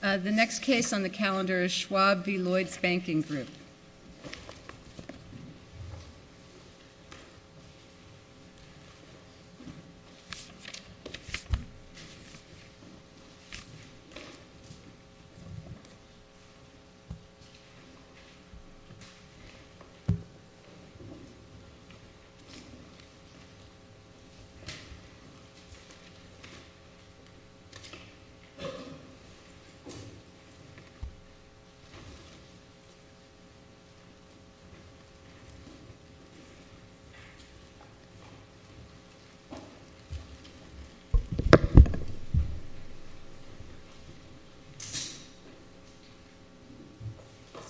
The next case on the calendar is Schwab v. Lloyds Banking Group.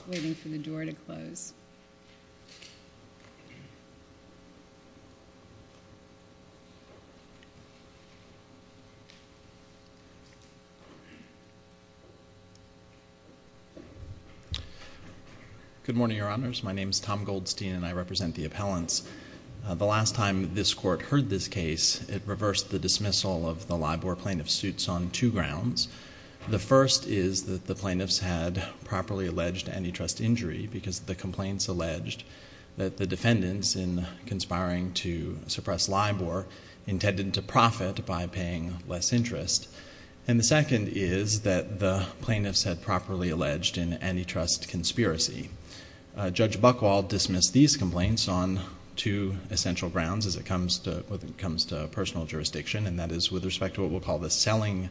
I'm just waiting for the door to close. Good morning, Your Honors. My name is Tom Goldstein, and I represent the appellants. The last time this Court heard this case, it reversed the dismissal of the Libor plaintiff's suits on two grounds. The first is that the plaintiffs had properly alleged antitrust injury because the complaints alleged that the defendants, in conspiring to suppress Libor, intended to profit by paying less interest. And the second is that the plaintiffs had properly alleged an antitrust conspiracy. Judge Buchwald dismissed these complaints on two essential grounds as it comes to personal jurisdiction, and that is with respect to what we'll call the selling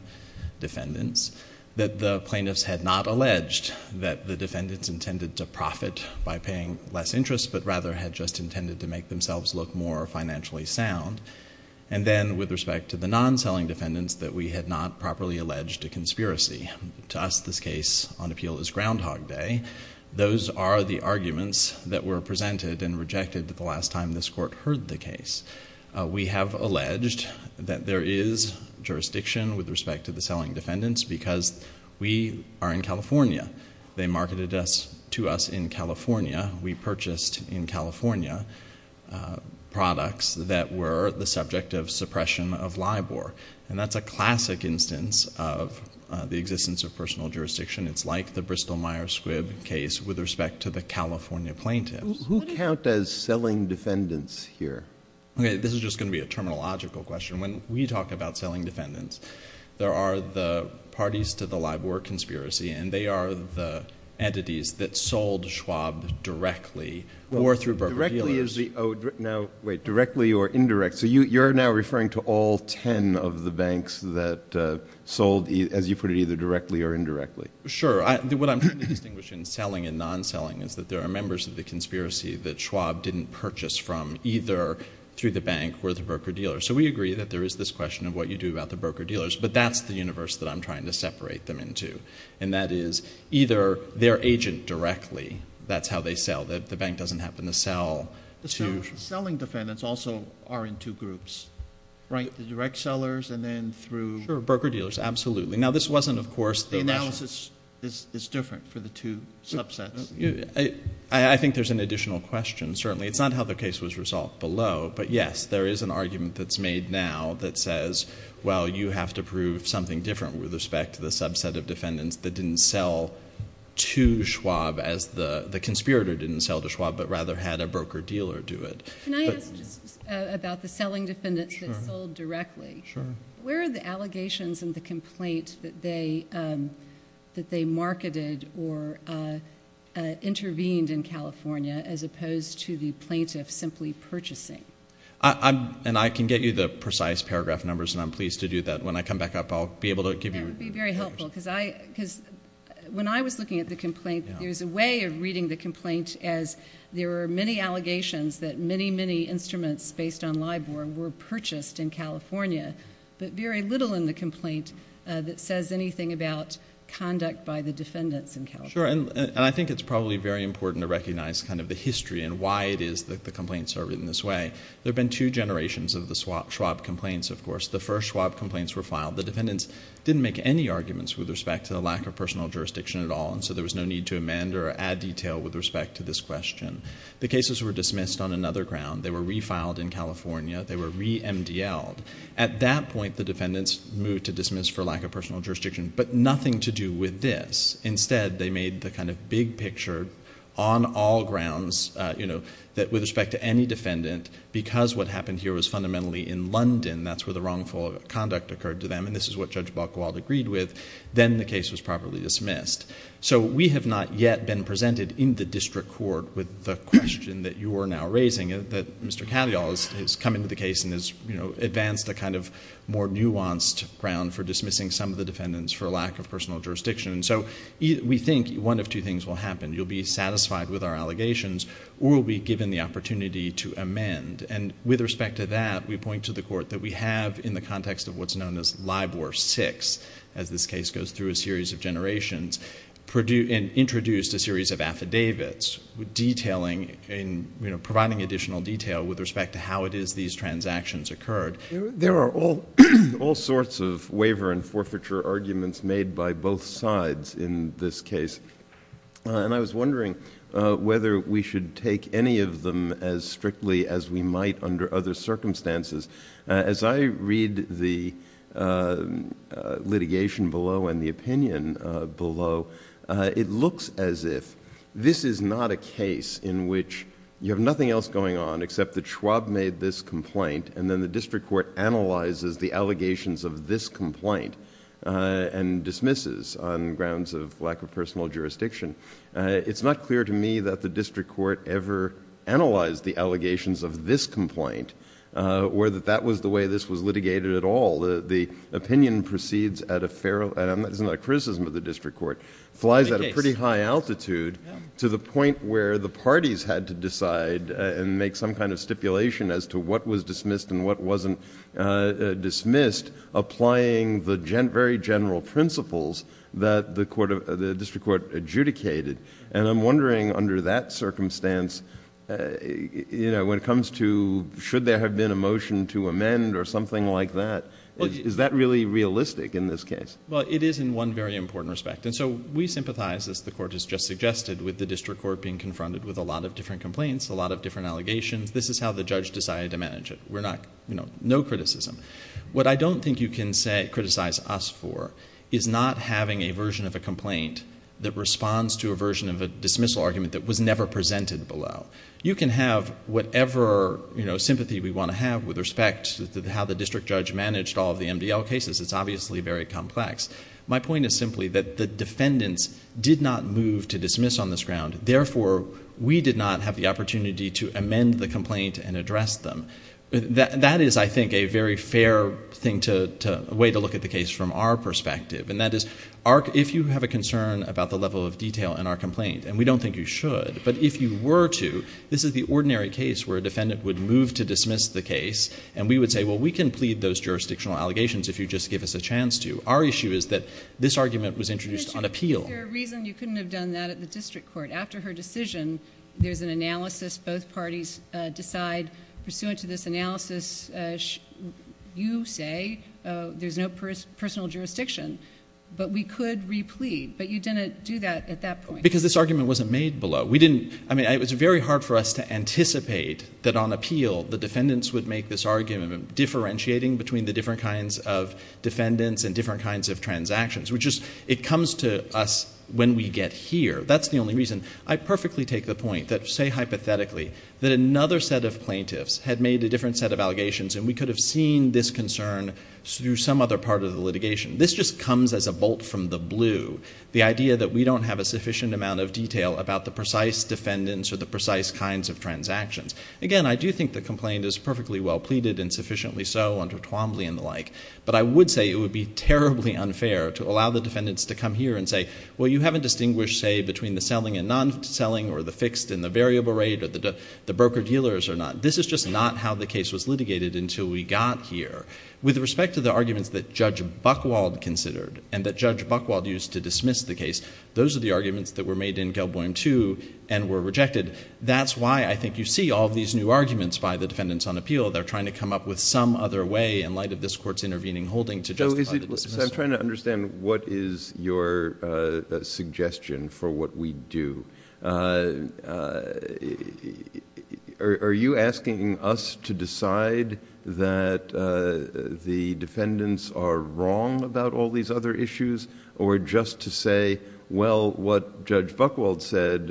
defendants, that the plaintiffs had not alleged that the defendants intended to profit by paying less interest but rather had just intended to make themselves look more financially sound. And then, with respect to the non-selling defendants, that we had not properly alleged a conspiracy. To us, this case on appeal is Groundhog Day. Those are the arguments that were presented and rejected the last time this Court heard the case. We have alleged that there is jurisdiction with respect to the selling defendants because we are in California. They marketed to us in California. We purchased in California products that were the subject of suppression of Libor. And that's a classic instance of the existence of personal jurisdiction. It's like the Bristol-Myers Squibb case with respect to the California plaintiffs. Who count as selling defendants here? Okay, this is just going to be a terminological question. When we talk about selling defendants, there are the parties to the Libor conspiracy, and they are the entities that sold Schwab directly or through Burbank dealers. Directly is the—oh, now, wait. Directly or indirect. So you're now referring to all ten of the banks that sold, as you put it, either directly or indirectly. Sure. What I'm trying to distinguish in selling and non-selling is that there are members of the conspiracy that Schwab didn't purchase from, either through the bank or the broker-dealer. So we agree that there is this question of what you do about the broker-dealers, but that's the universe that I'm trying to separate them into. And that is, either they're agent directly, that's how they sell. The bank doesn't happen to sell to— Selling defendants also are in two groups, right? The direct sellers and then through— Sure. Broker-dealers. Absolutely. Now, this wasn't, of course— The analysis is different for the two subsets. I think there's an additional question, certainly. It's not how the case was resolved below, but yes, there is an argument that's made now that says, well, you have to prove something different with respect to the subset of defendants that didn't sell to Schwab as the—the conspirator didn't sell to Schwab, but rather had a broker-dealer do it. Can I ask just about the selling defendants that sold directly? Sure. Where are the allegations in the complaint that they—that they marketed or intervened in California as opposed to the plaintiff simply purchasing? And I can get you the precise paragraph numbers, and I'm pleased to do that. When I come back up, I'll be able to give you— That would be very helpful, because I—because when I was looking at the complaint, there was a way of reading the complaint as there were many allegations that many, many instruments based on LIBOR were purchased in California, but very little in the complaint that says anything about conduct by the defendants in California. Sure. And I think it's probably very important to recognize kind of the history and why it is that the complaints are written this way. There have been two generations of the Schwab complaints, of course. The first Schwab complaints were filed. The defendants didn't make any arguments with respect to the lack of personal jurisdiction at all, and so there was no need to amend or add detail with respect to this question. The cases were dismissed on another ground. They were refiled in California. They were re-MDLed. At that point, the defendants moved to dismiss for lack of personal jurisdiction, but nothing to do with this. Instead, they made the kind of big picture on all grounds, you know, that with respect to any defendant, because what happened here was fundamentally in London, that's where the wrongful conduct occurred to them, and this is what Judge Balcoald agreed with, then the case was properly dismissed. So we have not yet been presented in the district court with the question that you are now raising, that Mr. Katyal has come into the case and has, you know, advanced a kind of more nuanced ground for dismissing some of the defendants for lack of personal jurisdiction. So we think one of two things will happen. You'll be satisfied with our allegations, or we'll be given the opportunity to amend, and with respect to that, we point to the court that we have in the context of what's known as LIBOR 6, as this case goes through a series of generations, and introduced a lot of detailing, you know, providing additional detail with respect to how it is these transactions occurred. There are all sorts of waiver and forfeiture arguments made by both sides in this case, and I was wondering whether we should take any of them as strictly as we might under other circumstances. As I read the litigation below and the opinion below, it looks as if this is not a case in which you have nothing else going on except that Schwab made this complaint, and then the district court analyzes the allegations of this complaint, and dismisses on grounds of lack of personal jurisdiction. It's not clear to me that the district court ever analyzed the allegations of this complaint, or that that was the way this was litigated at all. The opinion proceeds at a... it's not a criticism of the district court, flies at a pretty high altitude to the point where the parties had to decide and make some kind of stipulation as to what was dismissed and what wasn't dismissed, applying the very general principles that the district court adjudicated. And I'm wondering under that circumstance, you know, when it comes to should there have been a motion to amend or something like that, is that really realistic in this case? Well, it is in one very important respect. And so we sympathize, as the court has just suggested, with the district court being confronted with a lot of different complaints, a lot of different allegations. This is how the judge decided to manage it. We're not... you know, no criticism. What I don't think you can criticize us for is not having a version of a complaint that responds to a version of a dismissal argument that was never presented below. You can have whatever, you know, sympathy we want to have with respect to how the district judge managed all of the MDL cases. It's obviously very complex. My point is simply that the defendants did not move to dismiss on this ground. Therefore, we did not have the opportunity to amend the complaint and address them. That is, I think, a very fair thing to... a way to look at the case from our perspective. And that is, if you have a concern about the level of detail in our complaint, and we don't think you should, but if you were to, this is the ordinary case where a defendant would move to dismiss the case, and we would say, well, we can plead those jurisdictional allegations if you just give us a chance to. Our issue is that this argument was introduced on appeal. Is there a reason you couldn't have done that at the district court? After her decision, there's an analysis, both parties decide, pursuant to this analysis, you say there's no personal jurisdiction, but we could replete, but you didn't do that at that point. Because this argument wasn't made below. We didn't... I mean, it was very hard for us to anticipate that on appeal, the defendants would make this argument of differentiating between the different kinds of defendants and different kinds of transactions, which is... it comes to us when we get here. That's the only reason. I perfectly take the point that, say, hypothetically, that another set of plaintiffs had made a different set of allegations, and we could have seen this concern through some other part of the litigation. This just comes as a bolt from the blue, the idea that we don't have a sufficient amount of detail about the precise defendants or the precise kinds of transactions. Again, I do think the complaint is perfectly well pleaded and sufficiently so under Twombly and the like, but I would say it would be terribly unfair to allow the defendants to come here and say, well, you haven't distinguished, say, between the selling and non-selling, or the fixed and the variable rate, or the broker-dealers or not. This is just not how the case was litigated until we got here. With respect to the arguments that Judge Buchwald considered and that Judge Buchwald used to dismiss the case, those are the arguments that were made in Gelboim II and were rejected. That's why I think you see all of these new arguments by the defendants on appeal. They're trying to come up with some other way in light of this Court's intervening holding to justify the dismissal. JUSTICE BREYER. So I'm trying to understand what is your suggestion for what we do. Are you asking us to decide that the defendants are wrong about all these other issues, or just to say, well, what Judge Buchwald said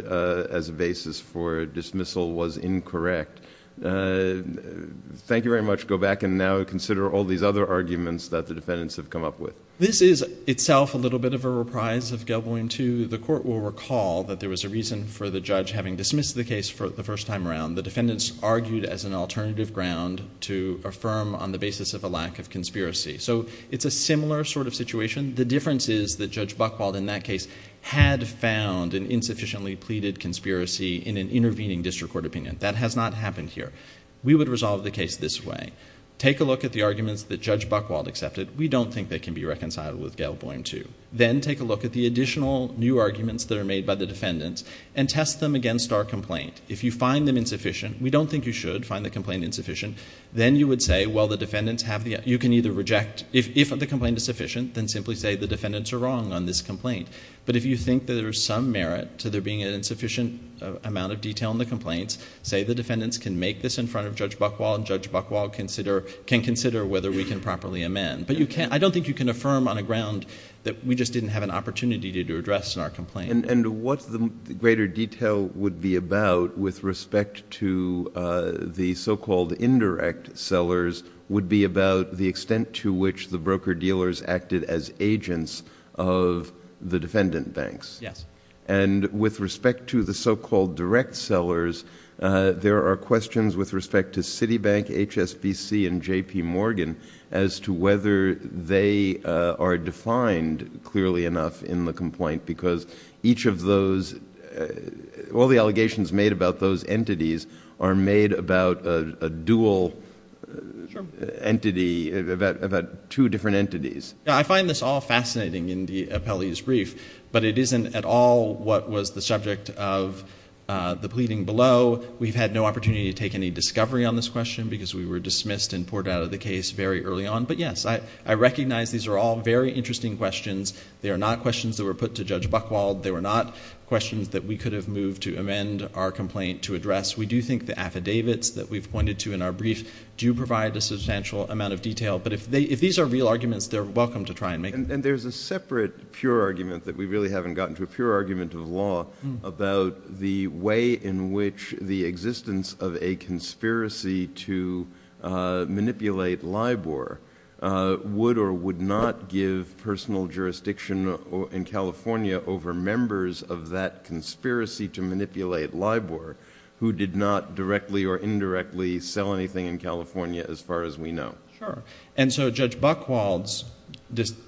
as a basis for dismissal was incorrect? Thank you very much. Go back and now consider all these other arguments that the defendants have come up with. MR. WHITE. This is itself a little bit of a reprise of Gelboim II. The Court will recall that there was a reason for the judge having dismissed the case the first time around. The defendants argued as an alternative ground to affirm on the basis of a lack of conspiracy. So it's a similar sort of situation. The difference is that Judge Buchwald in that case had found an insufficiently pleaded conspiracy in an intervening district court opinion. That has not happened here. We would resolve the case this way. Take a look at the arguments that Judge Buchwald accepted. We don't think they can be reconciled with Gelboim II. Then take a look at the additional new arguments that are made by the defendants and test them against our complaint. If you find them insufficient, we don't think you should find the complaint insufficient, then you would say, well, the defendants have the... you can either reject... if the complaint is sufficient, then simply say the defendants are wrong on this complaint. But if you think that there is some merit to there being an insufficient amount of detail in the complaints, say the defendants can make this in front of Judge Buchwald and Judge Buchwald can consider whether we can properly amend. But you can't... I don't think you can affirm on a ground that we just didn't have an opportunity to address in our complaint. And what the greater detail would be about with respect to the so-called indirect sellers would be about the extent to which the broker-dealers acted as agents of the defendant banks. And with respect to the so-called direct sellers, there are questions with respect to Citibank, HSBC, and J.P. Morgan as to whether they are defined clearly enough in the complaint because each of those... all the allegations made about those entities are made about a dual entity... about two different entities. Yeah, I find this all fascinating in the appellee's brief, but it isn't at all what was the subject of the pleading below. We've had no opportunity to take any discovery on this question because we were dismissed and poured out of the case very early on. But yes, I recognize these are all very interesting questions. They are not questions that were put to Judge Buchwald. They were not questions that we could have moved to amend our complaint to address. We do think the affidavits that we've pointed to in our brief do provide a substantial amount of detail. But if these are real arguments, they're welcome to try and make them. And there's a separate pure argument that we really haven't gotten to, a pure argument of law about the way in which the existence of a conspiracy to manipulate LIBOR would or would not give personal jurisdiction in California over members of that conspiracy to manipulate LIBOR who did not directly or indirectly sell anything in California as far as we know. Sure. And so Judge Buchwald's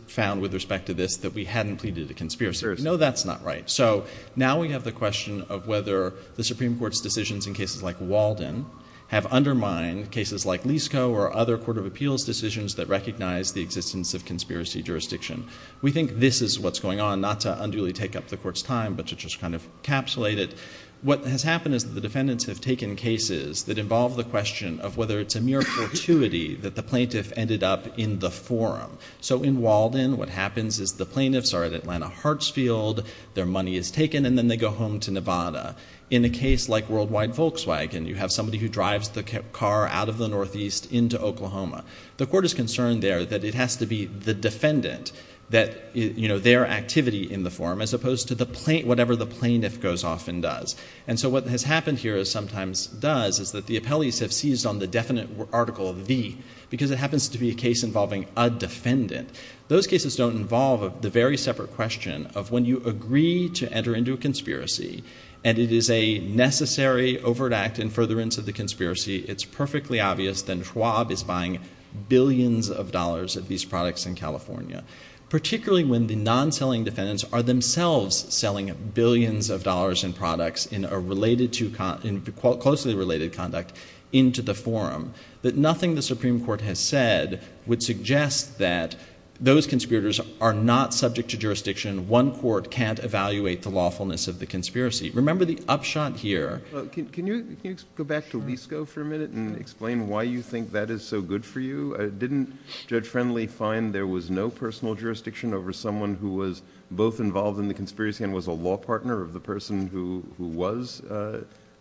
found with respect to this that we hadn't pleaded a conspiracy. No, that's not right. So now we have the question of whether the Supreme Court's decisions in cases like Walden have undermined cases like Liscoe or other court of appeals decisions that recognize the existence of conspiracy jurisdiction. We think this is what's going on, not to unduly take up the court's time, but to just kind of encapsulate it. What has happened is that the defendants have taken cases that involve the question of whether it's a mere fortuity that the plaintiff ended up in the forum. So in Walden, what happens is the plaintiffs are at Atlanta Hartsfield, their money is taken, and then they go home to Nevada. In a case like Worldwide Volkswagen, you have somebody who drives the car out of the Northeast into Oklahoma. The court is concerned there that it has to be the defendant that, you know, their activity in the forum as opposed to the plaintiff, whatever the plaintiff goes off and does. And so what has happened here is sometimes does is that the appellees have seized on the definite article of the, because it happens to be a case involving a defendant. Those cases don't involve the very separate question of when you agree to enter into a conspiracy and it is a necessary overt act in furtherance of the conspiracy, it's perfectly obvious that Schwab is buying billions of dollars of these products in California. Particularly when the non-selling defendants are themselves selling billions of dollars in products in a related to, in closely related conduct into the forum. That nothing the Supreme Court has said would suggest that those conspirators are not subject to jurisdiction. One court can't evaluate the lawfulness of the conspiracy. Remember the upshot here. Can you go back to Lisco for a minute and explain why you think that is so good for you? Didn't Judge Friendly find there was no personal jurisdiction over someone who was both involved in the conspiracy and was a law partner of the person who was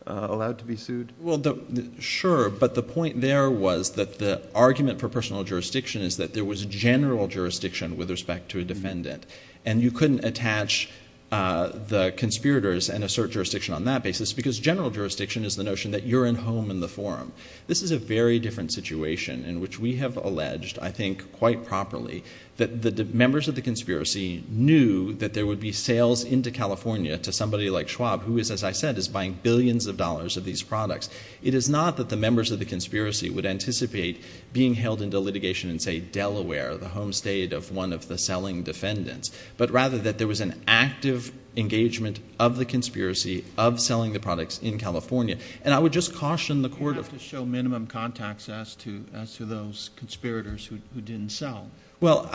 allowed to be sued? Well, sure, but the point there was that the argument for personal jurisdiction is that there was general jurisdiction with respect to a defendant. And you couldn't attach the conspirators and assert jurisdiction on that basis because general jurisdiction is the I think quite properly that the members of the conspiracy knew that there would be sales into California to somebody like Schwab who is, as I said, is buying billions of dollars of these products. It is not that the members of the conspiracy would anticipate being held into litigation in, say, Delaware, the home state of one of the selling defendants, but rather that there was an active engagement of the conspiracy of selling the products in California. And I would just caution the court of showing minimum contacts as to those conspirators who didn't sell. Well,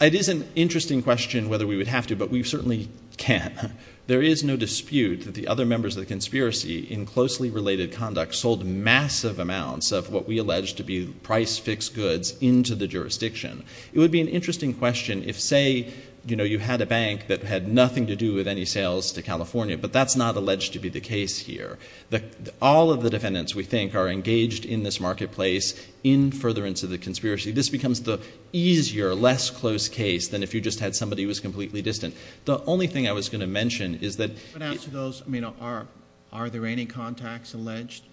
it is an interesting question whether we would have to, but we certainly can. There is no dispute that the other members of the conspiracy in closely related conduct sold massive amounts of what we allege to be price fixed goods into the jurisdiction. It would be an interesting question if, say, you had a bank that had nothing to do with any sales to California, but that is not alleged to be the case here. All of the defendants we are engaged in this marketplace, in furtherance of the conspiracy, this becomes the easier, less close case than if you just had somebody who was completely distant. The only thing I was going to mention is that... I would ask those, I mean, are there any contacts alleged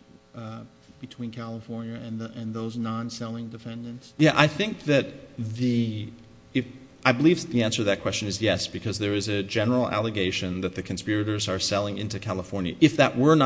between California and those non-selling defendants? Yeah. I think that the... I believe the answer to that question is yes, because there is a general allegation that the conspirators are selling into California. If that were in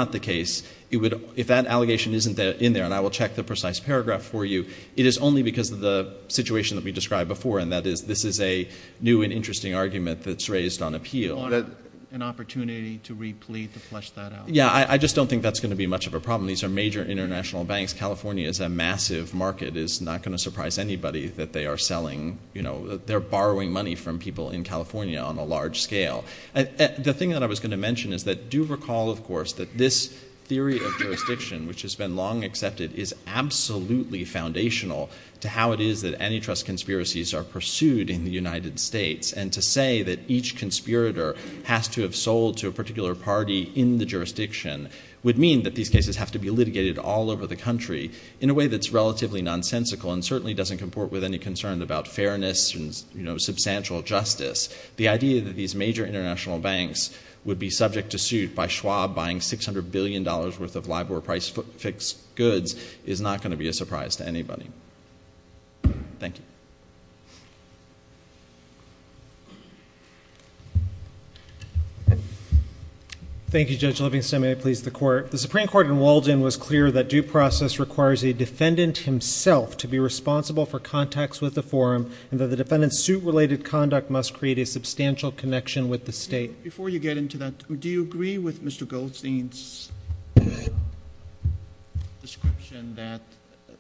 there, and I will check the precise paragraph for you, it is only because of the situation that we described before, and that is this is a new and interesting argument that is raised on appeal. Do you want an opportunity to replete, to flesh that out? Yeah. I just don't think that is going to be much of a problem. These are major international banks. California is a massive market. It is not going to surprise anybody that they are selling, you know, they are borrowing money from people in California on a large scale. The thing that I was going to mention is that do recall, of course, that this theory of jurisdiction, which has been long accepted, is absolutely foundational to how it is that antitrust conspiracies are pursued in the United States, and to say that each conspirator has to have sold to a particular party in the jurisdiction would mean that these cases have to be litigated all over the country in a way that is relatively nonsensical and certainly doesn't comport with any concern about fairness and, you know, substantial justice. The idea that these major international banks would be subject to suit by Schwab buying $600 billion worth of LIBOR-priced fixed goods is not going to be a surprise to anybody. Thank you. Thank you, Judge Livingston. May I please the Court? The Supreme Court in Walden was clear that due process requires a defendant himself to be responsible for contacts with the forum and that the defendant's suit-related conduct must create a substantial connection with the state. Before you get into that, do you agree with Mr. Goldstein's description that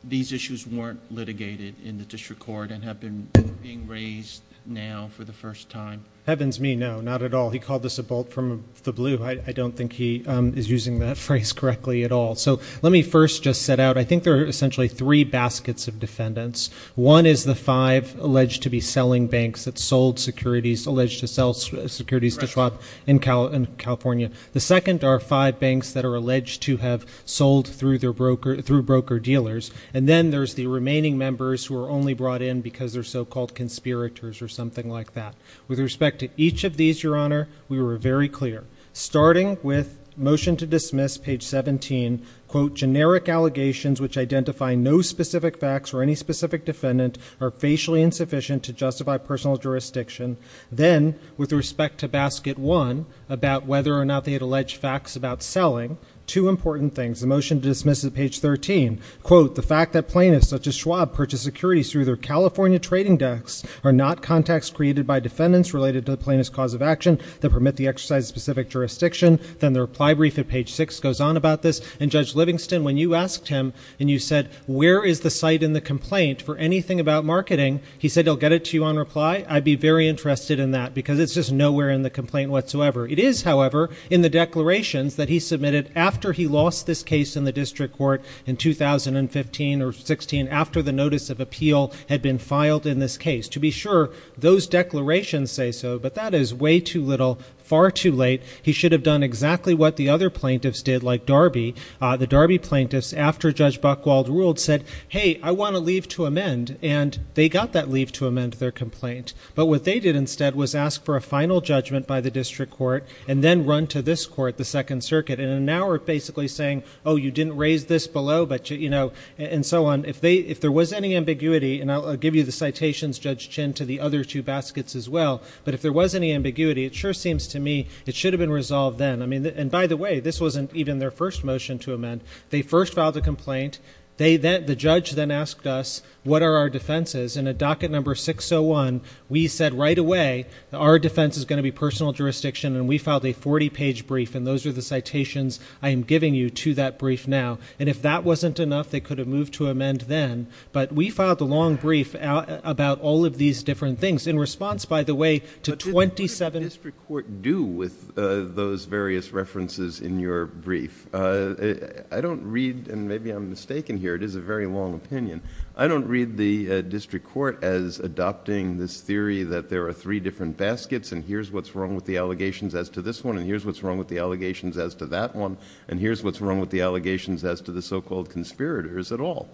these issues weren't litigated in the district court and have been being raised now for the first time? Heavens me, no, not at all. He called this a bolt from the blue. I don't think he is using that phrase correctly at all. So let me first just set out, I think there are essentially three baskets of defendants. One is the five alleged to be selling banks that sold securities, alleged to sell securities to Schwab in California. The second are five banks that are alleged to have sold through broker dealers. And then there's the remaining members who are only brought in because they're so-called conspirators or something like that. With respect to each of these, Your Honor, we were very clear. Starting with motion to dismiss, page 17, quote, generic allegations which identify no specific facts or any specific defendant are facially insufficient to justify personal jurisdiction. Then, with respect to basket one about whether or not they had alleged facts about selling, two important things. The motion to dismiss at page 13, quote, the fact that plaintiffs such as Schwab purchased securities through their California trading decks are not contacts created by defendants related to the plaintiff's cause of action that permit the exercise of specific jurisdiction. Then the reply brief at page six goes on about this. And Judge Livingston, when you asked him and you said, where is the site in the complaint for anything about marketing, he said he'll get it to you on reply. I'd be very interested in that because it's just nowhere in the complaint whatsoever. It is, however, in the declarations that he submitted after he lost this case in the district court in 2015 or 16, after the notice of appeal had been filed in this case. To be sure, those declarations say so, but that is way too little, far too late. He should have done exactly what the other plaintiffs did, like Darby. The Darby plaintiffs, after Judge Buchwald ruled, said, hey, I want a leave to amend, and they got that leave to amend their complaint. But what they did instead was ask for a final judgment by the district court and then run to this court, the Second Circuit, in an hour basically saying, oh, you didn't raise this below, but you know, and so on. If there was any ambiguity, and I'll give you the citations, Judge Chinn, to the other two baskets as well, but if there was any ambiguity, it sure seems to me it should have been resolved then. And by the way, this wasn't even their first motion to amend. They first filed a complaint. The judge then asked us, what are our defenses? In a docket number 601, we said right away, our defense is going to be personal jurisdiction, and we filed a 40-page brief, and those are the citations I am giving you to that brief now. And if that wasn't enough, they could have moved to amend then, but we filed a long brief about all of these different things. In response, by the way, to 27 — But what did the district court do with those various references in your brief? I don't read, and maybe I'm mistaken here, it is a very long opinion, I don't read the district court as adopting this theory that there are three different baskets, and here's what's wrong with the allegations as to this one, and here's what's wrong with the allegations as to that one, and here's what's wrong with the allegations as to the so-called conspirators at all.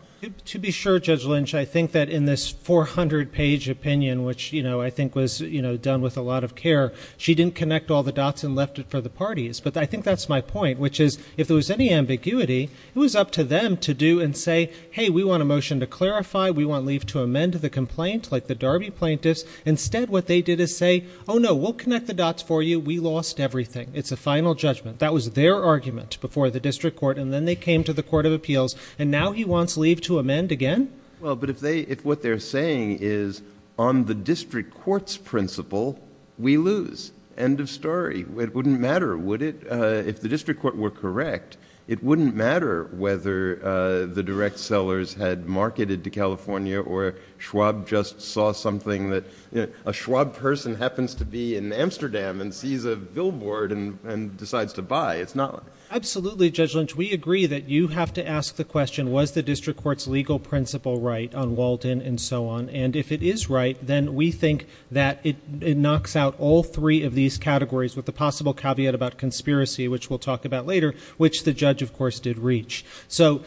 To be sure, Judge Lynch, I think that in this 400-page opinion, which I think was done with a lot of care, she didn't connect all the dots and left it for the parties, but I think that's my point, which is, if there was any ambiguity, it was up to them to do and say, hey, we want a motion to clarify, we want leave to amend the complaint, like the Darby plaintiffs. Instead, what they did is say, oh, no, we'll connect the dots for you, we lost everything. It's a final judgment. That was their argument before the district court, and then they came to the court of appeals, and now he wants leave to amend again? Well, but if what they're saying is, on the district court's principle, we lose. End of story. It wouldn't matter, would it? If the district court were correct, it wouldn't matter whether the direct sellers had marketed to California or Schwab just saw something that a Schwab person happens to be in Amsterdam and sees a billboard and decides to buy. It's not like that. Absolutely, Judge Lynch. We agree that you have to ask the question, was the district court's legal principle right on Walden and so on, and if it is right, then we think that it knocks out all three of these categories with the possible caveat about conspiracy, which we'll talk about later, which the judge, of course, did reach. But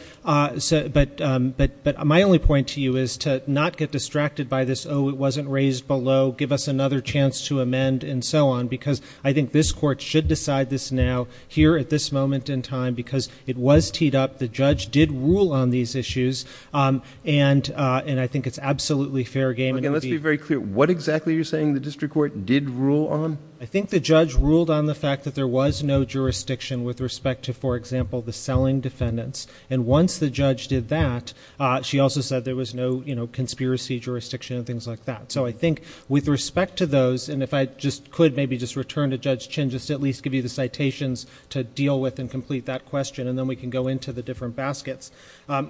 my only point to you is to not get distracted by this, oh, it wasn't raised below, give us another chance to amend and so on, because I think this court should decide this now, here at this moment in time, because it was teed up, the judge did rule on these issues, and I think it's absolutely fair game. Let's be very clear. What exactly are you saying the district court did rule on? I think the judge ruled on the fact that there was no jurisdiction with respect to, for example, the selling defendants, and once the judge did that, she also said there was no conspiracy jurisdiction and things like that. So I think with respect to those, and if I just could maybe just return to Judge Chin just to at least give you the citations to deal with and complete that question, and then we can go into the different baskets.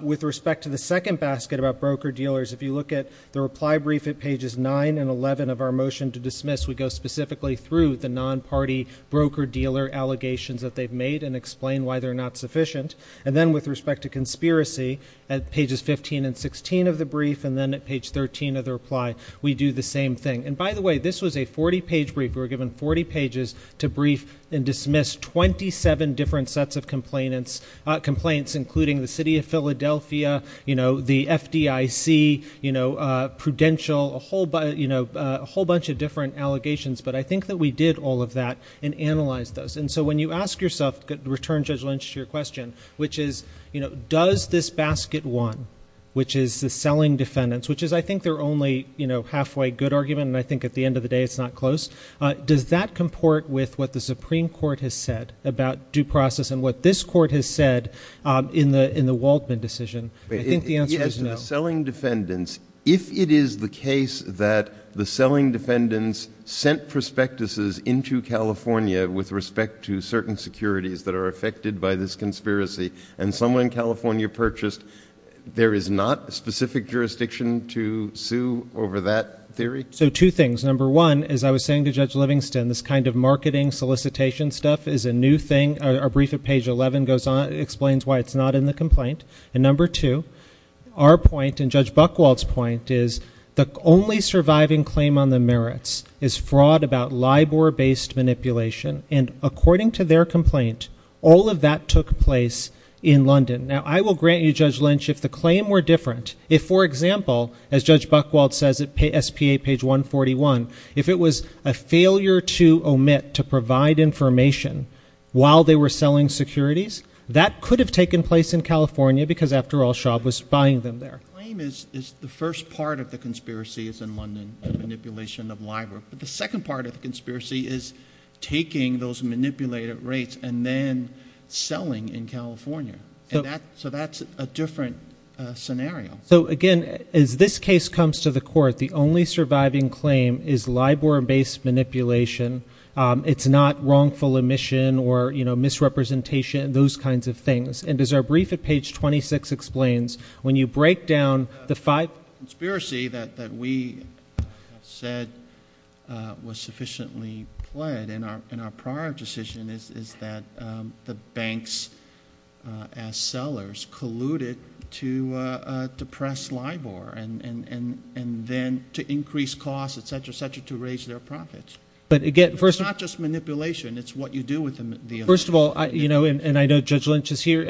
With respect to the second basket about broker-dealers, if you look at the reply brief at pages 9 and 11 of our motion to dismiss, we go specifically through the non-party broker-dealer allegations that they've made and explain why they're not sufficient. And then with respect to conspiracy, at pages 15 and 16 of the brief and then at page 13 of the reply, we do the same thing. And by the way, this was a 40-page brief. We were given 40 pages to brief and dismiss 27 different sets of complaints, including the City of Philadelphia, the FDIC, Prudential, a whole bunch of different allegations, but I think that we did all of that and analyzed those. And so when you ask yourself, to return Judge Lynch to your question, which is does this basket 1, which is the selling defendants, which is I think their only halfway good argument and I think at the end of the day it's not close, does that comport with what the Supreme Court has said about due process and what this court has said in the Waldman decision? I think the answer is no. He asked the selling defendants. If it is the case that the selling defendants sent prospectuses into California with respect to certain securities that are affected by this conspiracy and someone in California purchased, there is not a specific jurisdiction to sue over that theory? So two things. Number one, as I was saying to Judge Livingston, this kind of marketing solicitation stuff is a new thing. Our brief at page 11 explains why it's not in the complaint. And number two, our point and Judge Buchwald's point is the only surviving claim on the merits is fraud about LIBOR-based manipulation. And according to their complaint, all of that took place in London. Now, I will grant you, Judge Lynch, if the claim were different, if, for example, as Judge Buchwald says at SPA page 141, if it was a failure to omit to provide information while they were selling securities, that could have taken place in California because after all Schaub was buying them there. The claim is the first part of the conspiracy is in London, the manipulation of LIBOR. But the second part of the conspiracy is taking those manipulated rates and then selling in California. So that's a different scenario. So again, as this case comes to the court, the only surviving claim is LIBOR-based manipulation. It's not wrongful omission or misrepresentation, those kinds of things. And as our brief at the end of the day, the conspiracy that we have said was sufficiently pled in our prior decision is that the banks, as sellers, colluded to depress LIBOR and then to increase costs, et cetera, et cetera, to raise their profits. It's not just manipulation. It's what you do with the money. First of all, and I know Judge Lynch is here,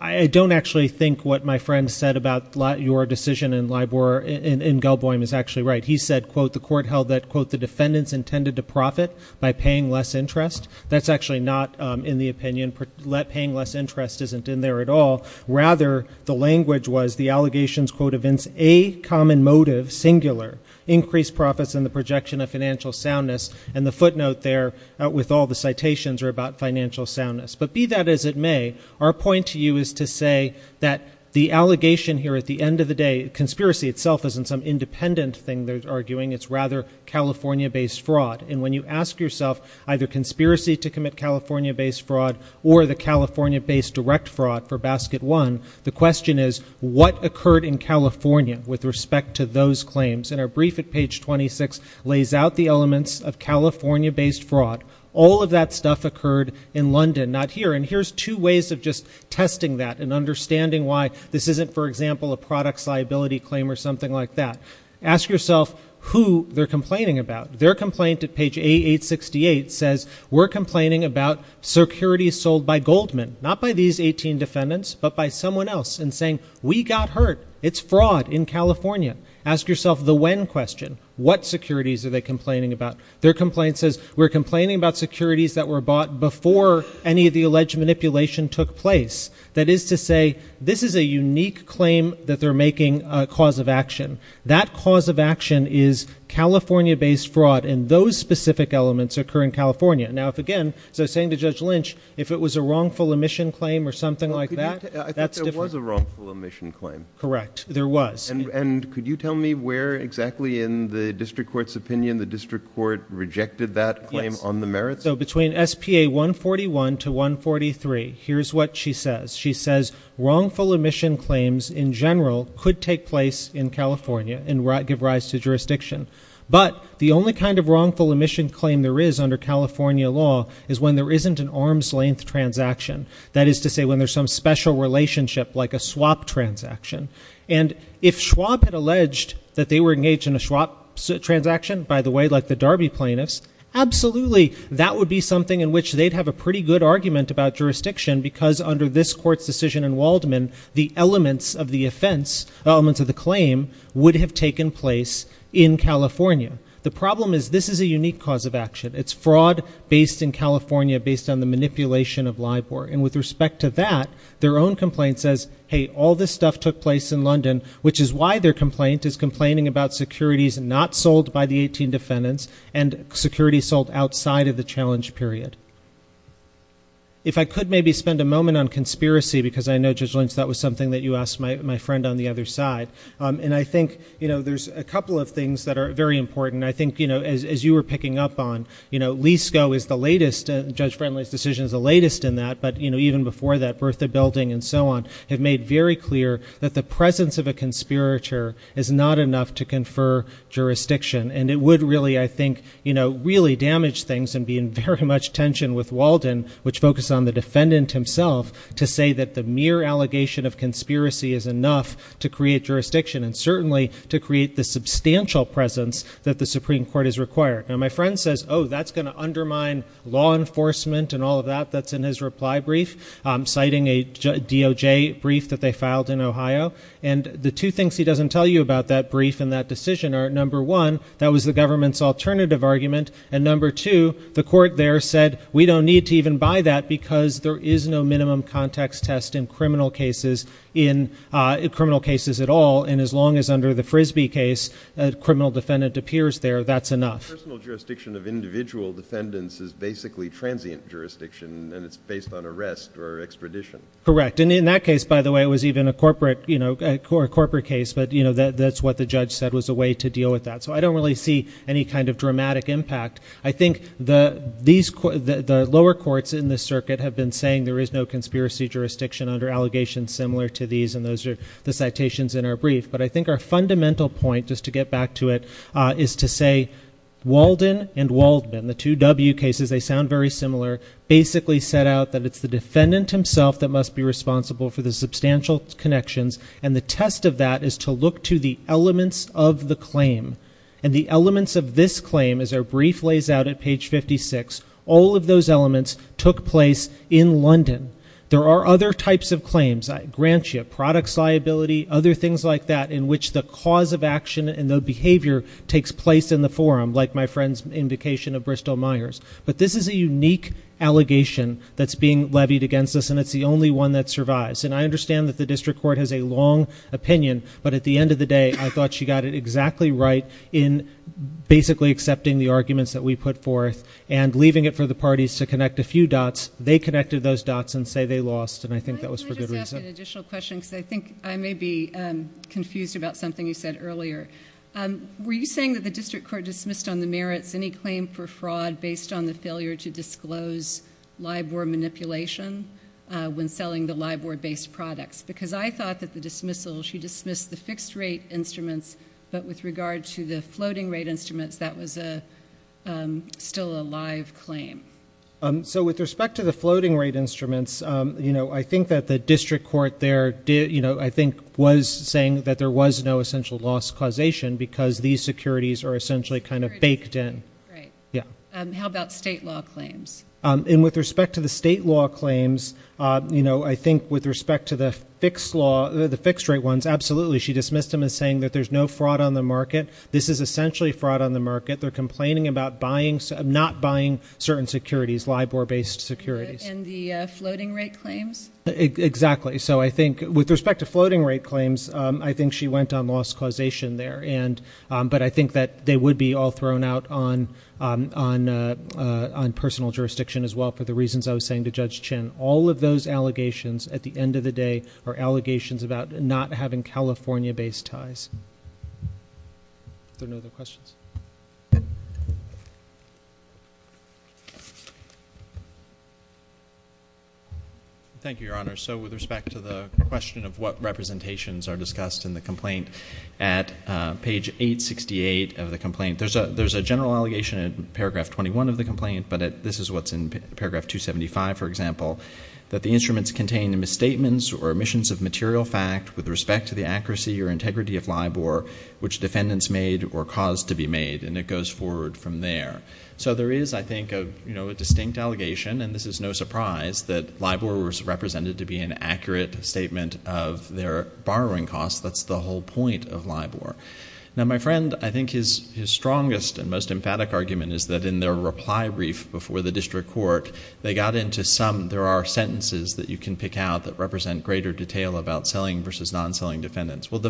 I don't actually think what my friend said about your decision in LIBOR, in Gelboim, is actually right. He said, quote, the court held that, quote, the defendants intended to profit by paying less interest. That's actually not in the opinion. Paying less interest isn't in there at all. Rather, the language was the allegations, quote, evince a common motive, singular, increased profits in the projection of financial soundness. And the footnote there with all the citations are about financial soundness. But be that as it may, our point to you is to say that the allegation here at the end of the day, conspiracy itself isn't some independent thing they're arguing. It's rather California-based fraud. And when you ask yourself either conspiracy to commit California-based fraud or the California-based direct fraud for basket one, the question is, what occurred in California with respect to those claims? And our brief at page 26 lays out the elements of California-based fraud. All of that stuff occurred in London, not here. And here's two ways of just testing that and understanding why this isn't, for example, a products liability claim or something like that. Ask yourself who they're complaining about. Their complaint at page A868 says, we're complaining about securities sold by Goldman. Not by these 18 defendants, but by someone else. And saying, we got hurt. It's fraud in California. Ask yourself the when question. What securities are they complaining about? Their complaint says, we're complaining about securities that were bought before any of the alleged manipulation took place. That is to say, this is a unique claim that they're making a cause of action. That cause of action is California-based fraud. And those specific elements occur in California. Now, if again, so saying to Judge Lynch, if it was a wrongful omission claim or something like that, that's different. I think there was a wrongful omission claim. Correct. There was. And could you tell me where exactly in the district court's opinion the district court rejected that claim on the merits? Yes. So between SPA 141 to 143, here's what she says. She says, wrongful omission claims in general could take place in California and give rise to jurisdiction. But the only kind of wrongful omission claim there is under California law is when there isn't an arm's length transaction. That is to say, when there's some special relationship like a swap transaction. And if Schwab had alleged that they were engaged in a swap transaction, by the way, like the plaintiffs, absolutely. That would be something in which they'd have a pretty good argument about jurisdiction because under this court's decision in Waldman, the elements of the offense, elements of the claim would have taken place in California. The problem is this is a unique cause of action. It's fraud based in California, based on the manipulation of LIBOR. And with respect to that, their own complaint says, hey, all this stuff took place in London, which is why their complaint is complaining about securities not sold by the 18 defendants and securities sold outside of the challenge period. If I could maybe spend a moment on conspiracy, because I know, Judge Lynch, that was something that you asked my friend on the other side. And I think there's a couple of things that are very important. I think, as you were picking up on, LISCO is the latest, Judge Friendly's decision is the latest in that. But even before that, Bertha Building and so on have made very clear that the presence of a conspirator is not enough to confer jurisdiction. And it would really, I think, really damage things and be in very much tension with Walden, which focused on the defendant himself, to say that the mere allegation of conspiracy is enough to create jurisdiction and certainly to create the substantial presence that the Supreme Court has required. Now, my friend says, oh, that's going to undermine law enforcement and all of that that's in his reply brief, citing a DOJ brief that they filed in Ohio. And the two things he doesn't tell you about that brief and that decision are, number one, that was the government's alternative argument. And number two, the court there said, we don't need to even buy that because there is no minimum context test in criminal cases at all. And as long as under the Frisbee case, a criminal defendant appears there, that's enough. The personal jurisdiction of individual defendants is basically transient jurisdiction and it's based on arrest or extradition. Correct. And in that case, by the way, it was even a corporate case. But that's what the judge said was a way to deal with that. So I don't really see any kind of dramatic impact. I think the lower courts in this circuit have been saying there is no conspiracy jurisdiction under allegations similar to these. And those are the citations in our brief. But I think our fundamental point, just to get back to it, is to say Walden and Waldman, the two W cases, they sound very similar, basically set out that it's the defendant himself that must be responsible for the substantial connections. And the test of that is to look to the elements of the claim. And the elements of this claim, as our brief lays out at page 56, all of those elements took place in London. There are other types of claims. Grantship, products liability, other things like that in which the cause of action and the behavior takes place in the forum, like my friend's invocation of Bristol Myers. But this is a unique allegation that's being levied against us and it's the only one that survives. And I understand that the district court has a long opinion, but at the end of the day, I thought she got it exactly right in basically accepting the arguments that we put forth and leaving it for the parties to connect a few dots. They connected those dots and say they lost. And I think that was for good Can I just ask an additional question because I think I may be confused about something you said earlier. Were you saying that the district court dismissed on the merits any claim for fraud based on the failure to disclose LIBOR manipulation when selling the LIBOR based products? Because I thought that the dismissal, she dismissed the fixed rate instruments, but with regard to the floating rate instruments, that was still a live claim. So with respect to the floating rate instruments, you know, I think that the district court there did, you know, I think was saying that there was no essential loss causation because these securities are essentially kind of baked in. Right. Yeah. How about state law claims? And with respect to the state law claims, you know, I think with respect to the fixed law, the fixed rate ones, absolutely. She dismissed them as saying that there's no fraud on the market. This is essentially fraud on the market. They're complaining about buying, not buying certain securities, LIBOR based securities. And the floating rate claims? Exactly. So I think with respect to floating rate claims, I think she went on loss causation there. And but I think that they would be all thrown out on on on personal jurisdiction as well for the reasons I was saying to Judge Chin. All of those allegations at the end of the day are allegations about not having California based ties. Are there no other questions? Thank you, Your Honor. So with respect to the question of what representations are discussed in the complaint at page 868 of the complaint, there's a there's a general allegation in paragraph 21 of the complaint, but this is what's in paragraph 275, for example, that the instruments contain the misstatements or omissions of material fact with respect to the accuracy or integrity of LIBOR, which defendants made or caused to be made. And it goes forward from there. So there is, I think, a, you know, a distinct allegation. And this is no surprise that LIBOR was represented to be an accurate statement of their borrowing costs. That's the whole point of LIBOR. Now, my friend, I think his his strongest and most emphatic argument is that in their reply brief before the district court, they got into some there are sentences that you can pick out that represent greater detail about selling versus non-selling defendants. Well,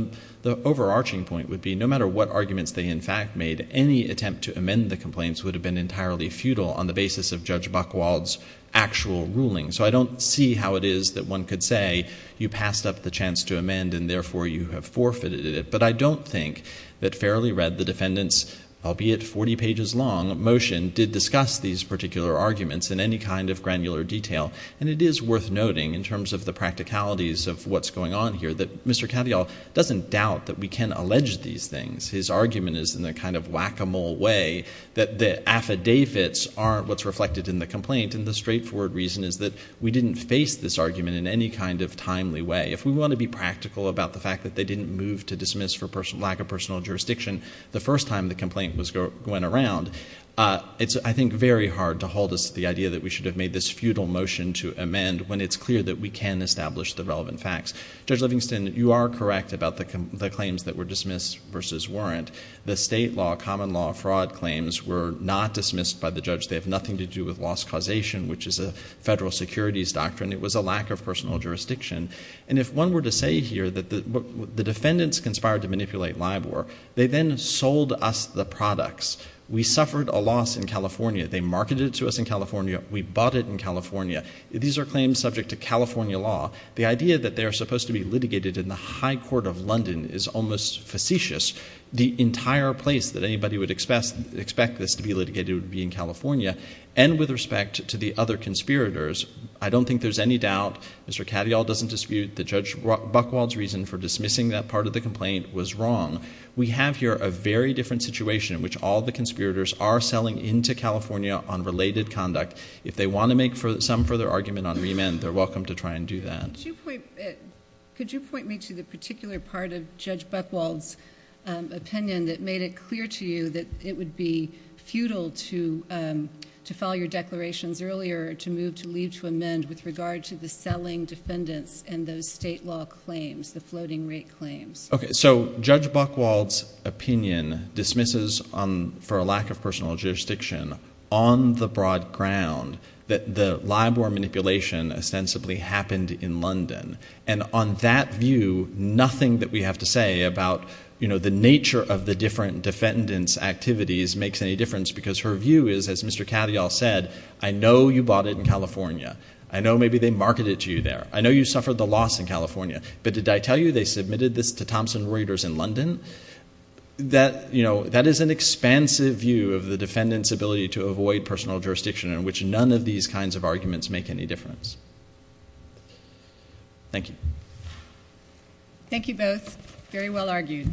the overarching point would be no matter what arguments they in fact made, any attempt to amend the complaints would have been entirely futile on the basis of Judge Buchwald's actual ruling. So I don't see how it is that one could say you passed up the chance to amend and therefore you have forfeited it. But I don't think that fairly read the defendants, albeit 40 pages long motion, did discuss these particular arguments in any kind of granular detail. And it is worth noting in terms of the practicalities of what's going on here that Mr. Cavial doesn't doubt that we can allege these things. His argument is in a kind of whack-a-mole way that the affidavits aren't what's reflected in the complaint. And the straightforward reason is that we didn't face this argument in any kind of timely way. If we want to be practical about the fact that they didn't move to dismiss for lack of personal jurisdiction the first time the complaint was going around, it's I think very hard to hold us to the idea that we should have made this futile motion to amend when it's clear that we can establish the relevant facts. Judge Livingston, you are correct about the claims that were dismissed versus weren't. The state law, common law fraud claims were not dismissed by the judge. They have nothing to do with loss causation, which is a federal securities doctrine. It was a lack of personal jurisdiction. And if one were to say here that the defendants conspired to manipulate LIBOR, they then sold us the products. We suffered a loss in California. They marketed it to us in California. We bought it in California. These are claims subject to California law. The idea that they are supposed to be litigated in the High Court of London is almost facetious. The entire place that anybody would expect this to be litigated would be in California. And with respect to the other conspirators, I don't think there's any doubt Mr. Katyal doesn't dispute that Judge Buchwald's reason for dismissing that part of the complaint was wrong. We have here a very different situation in which all the conspirators are selling into California on related conduct. If they want to make some further argument on remand, they're welcome to try and do that. Could you point me to the particular part of Judge Buchwald's opinion that made it clear to you that it would be futile to file your declarations earlier to move to leave to amend with regard to the selling defendants and those state law claims, the floating rate claims? Judge Buchwald's opinion dismisses, for a lack of personal jurisdiction, on the broad ground that the LIBOR manipulation ostensibly happened in London. And on that view, nothing that we have to say about the nature of the different defendants' activities makes any difference because her view is, as Mr. Katyal said, I know you bought it in California. I know maybe they marketed it to you there. I know you suffered the loss in California. But did I tell you they submitted this to Thomson Reuters in London? That is an expansive view of the defendant's ability to avoid personal jurisdiction in which none of these kinds of arguments make any difference. Thank you. Thank you both. Very well argued.